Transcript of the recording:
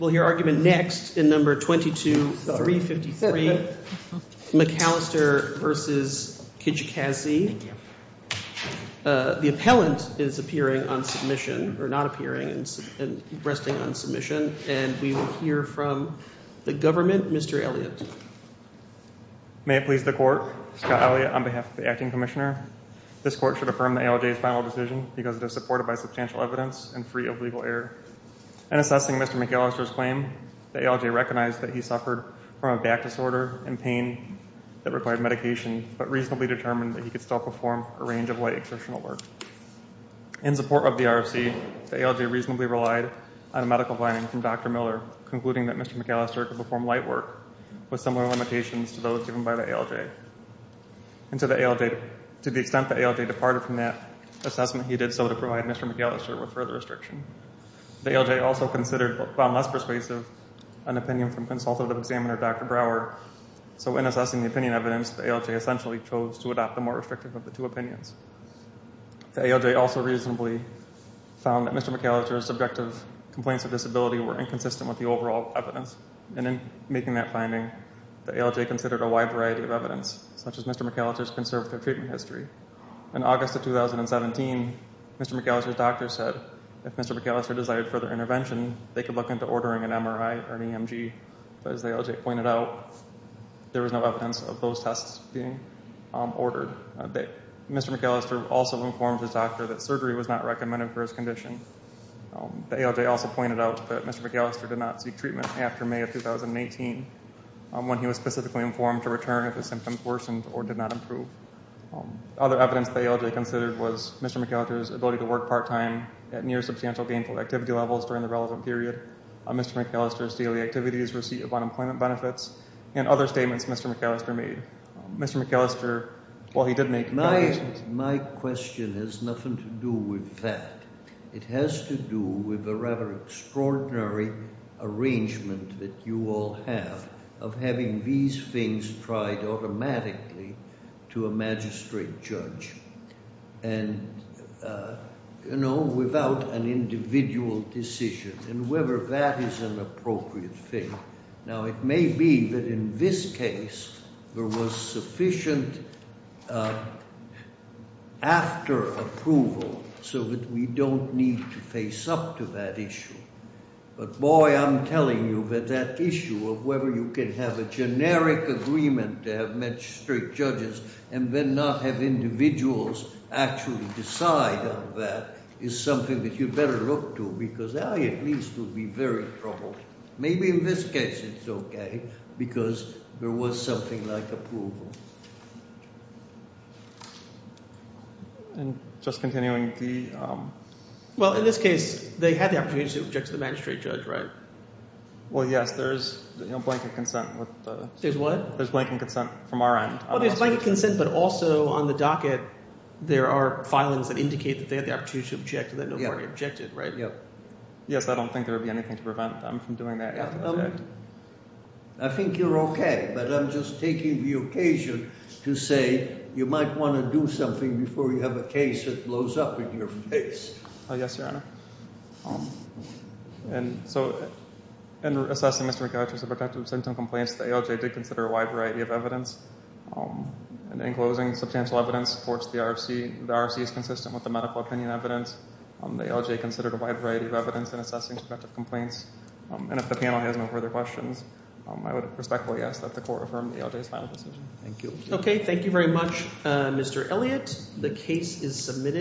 We'll hear argument next in No. 22-353, McAlister v. Kijikazi. The appellant is appearing on submission, or not appearing and resting on submission, and we will hear from the government. Mr. Elliott. May it please the Court, Scott Elliott on behalf of the Acting Commissioner. This Court should affirm the ALJ's final decision because it is supported by substantial evidence In assessing Mr. McAlister's claim, the ALJ recognized that he suffered from a back disorder and pain that required medication, but reasonably determined that he could still perform a range of light exceptional work. In support of the RFC, the ALJ reasonably relied on medical findings from Dr. Miller, concluding that Mr. McAlister could perform light work with similar limitations to those given by the ALJ. To the extent the ALJ departed from that assessment, he did so to provide Mr. McAlister with further restriction. The ALJ also found less persuasive an opinion from Consultative Examiner Dr. Brouwer, so in assessing the opinion evidence, the ALJ essentially chose to adopt the more restrictive of the two opinions. The ALJ also reasonably found that Mr. McAlister's subjective complaints of disability were inconsistent with the overall evidence, and in making that finding, the ALJ considered a wide variety of evidence, such as Mr. McAlister's conservative treatment history. In August of 2017, Mr. McAlister's doctor said if Mr. McAlister desired further intervention, they could look into ordering an MRI or an EMG, but as the ALJ pointed out, there was no evidence of those tests being ordered. Mr. McAlister also informed his doctor that surgery was not recommended for his condition. The ALJ also pointed out that Mr. McAlister did not seek treatment after May of 2018, when he was specifically informed to return if his symptoms worsened or did not improve. Other evidence the ALJ considered was Mr. McAlister's ability to work part-time at near substantial gainful activity levels during the relevant period, Mr. McAlister's daily activities receipt of unemployment benefits, and other statements Mr. McAlister made. Mr. McAlister, while he did make... My question has nothing to do with that. It has to do with the rather extraordinary arrangement that you all have of having these things tried automatically to a magistrate judge and, you know, without an individual decision and whether that is an appropriate thing. Now, it may be that in this case there was sufficient after-approval so that we don't need to face up to that issue, but boy, I'm telling you that that issue of whether you can have a generic agreement to have magistrate judges and then not have individuals actually decide on that is something that you'd better look to because I at least would be very troubled. Maybe in this case it's okay because there was something like approval. And just continuing the... Well, in this case, they had the opportunity to object to the magistrate judge, right? Well, yes. There's blanket consent with the... There's what? There's blanket consent from our end. Well, there's blanket consent, but also on the docket, there are filings that indicate that they had the opportunity to object and that nobody objected, right? Yeah. Yes. I don't think there would be anything to prevent them from doing that. I think you're okay, but I'm just taking the occasion to say you might want to do something before you have a case that blows up in your face. Yes, Your Honor. And so in assessing Mr. McAlister's protective symptom complaints, the ALJ did consider a wide variety of evidence. And in closing, substantial evidence supports the RFC. The RFC is consistent with the medical opinion evidence. The ALJ considered a wide variety of evidence in assessing subjective complaints. And if the panel has no further questions, I would respectfully ask that the court affirm the ALJ's final decision. Thank you. Okay. Thank you very much, Mr. Elliott. The case is submitted.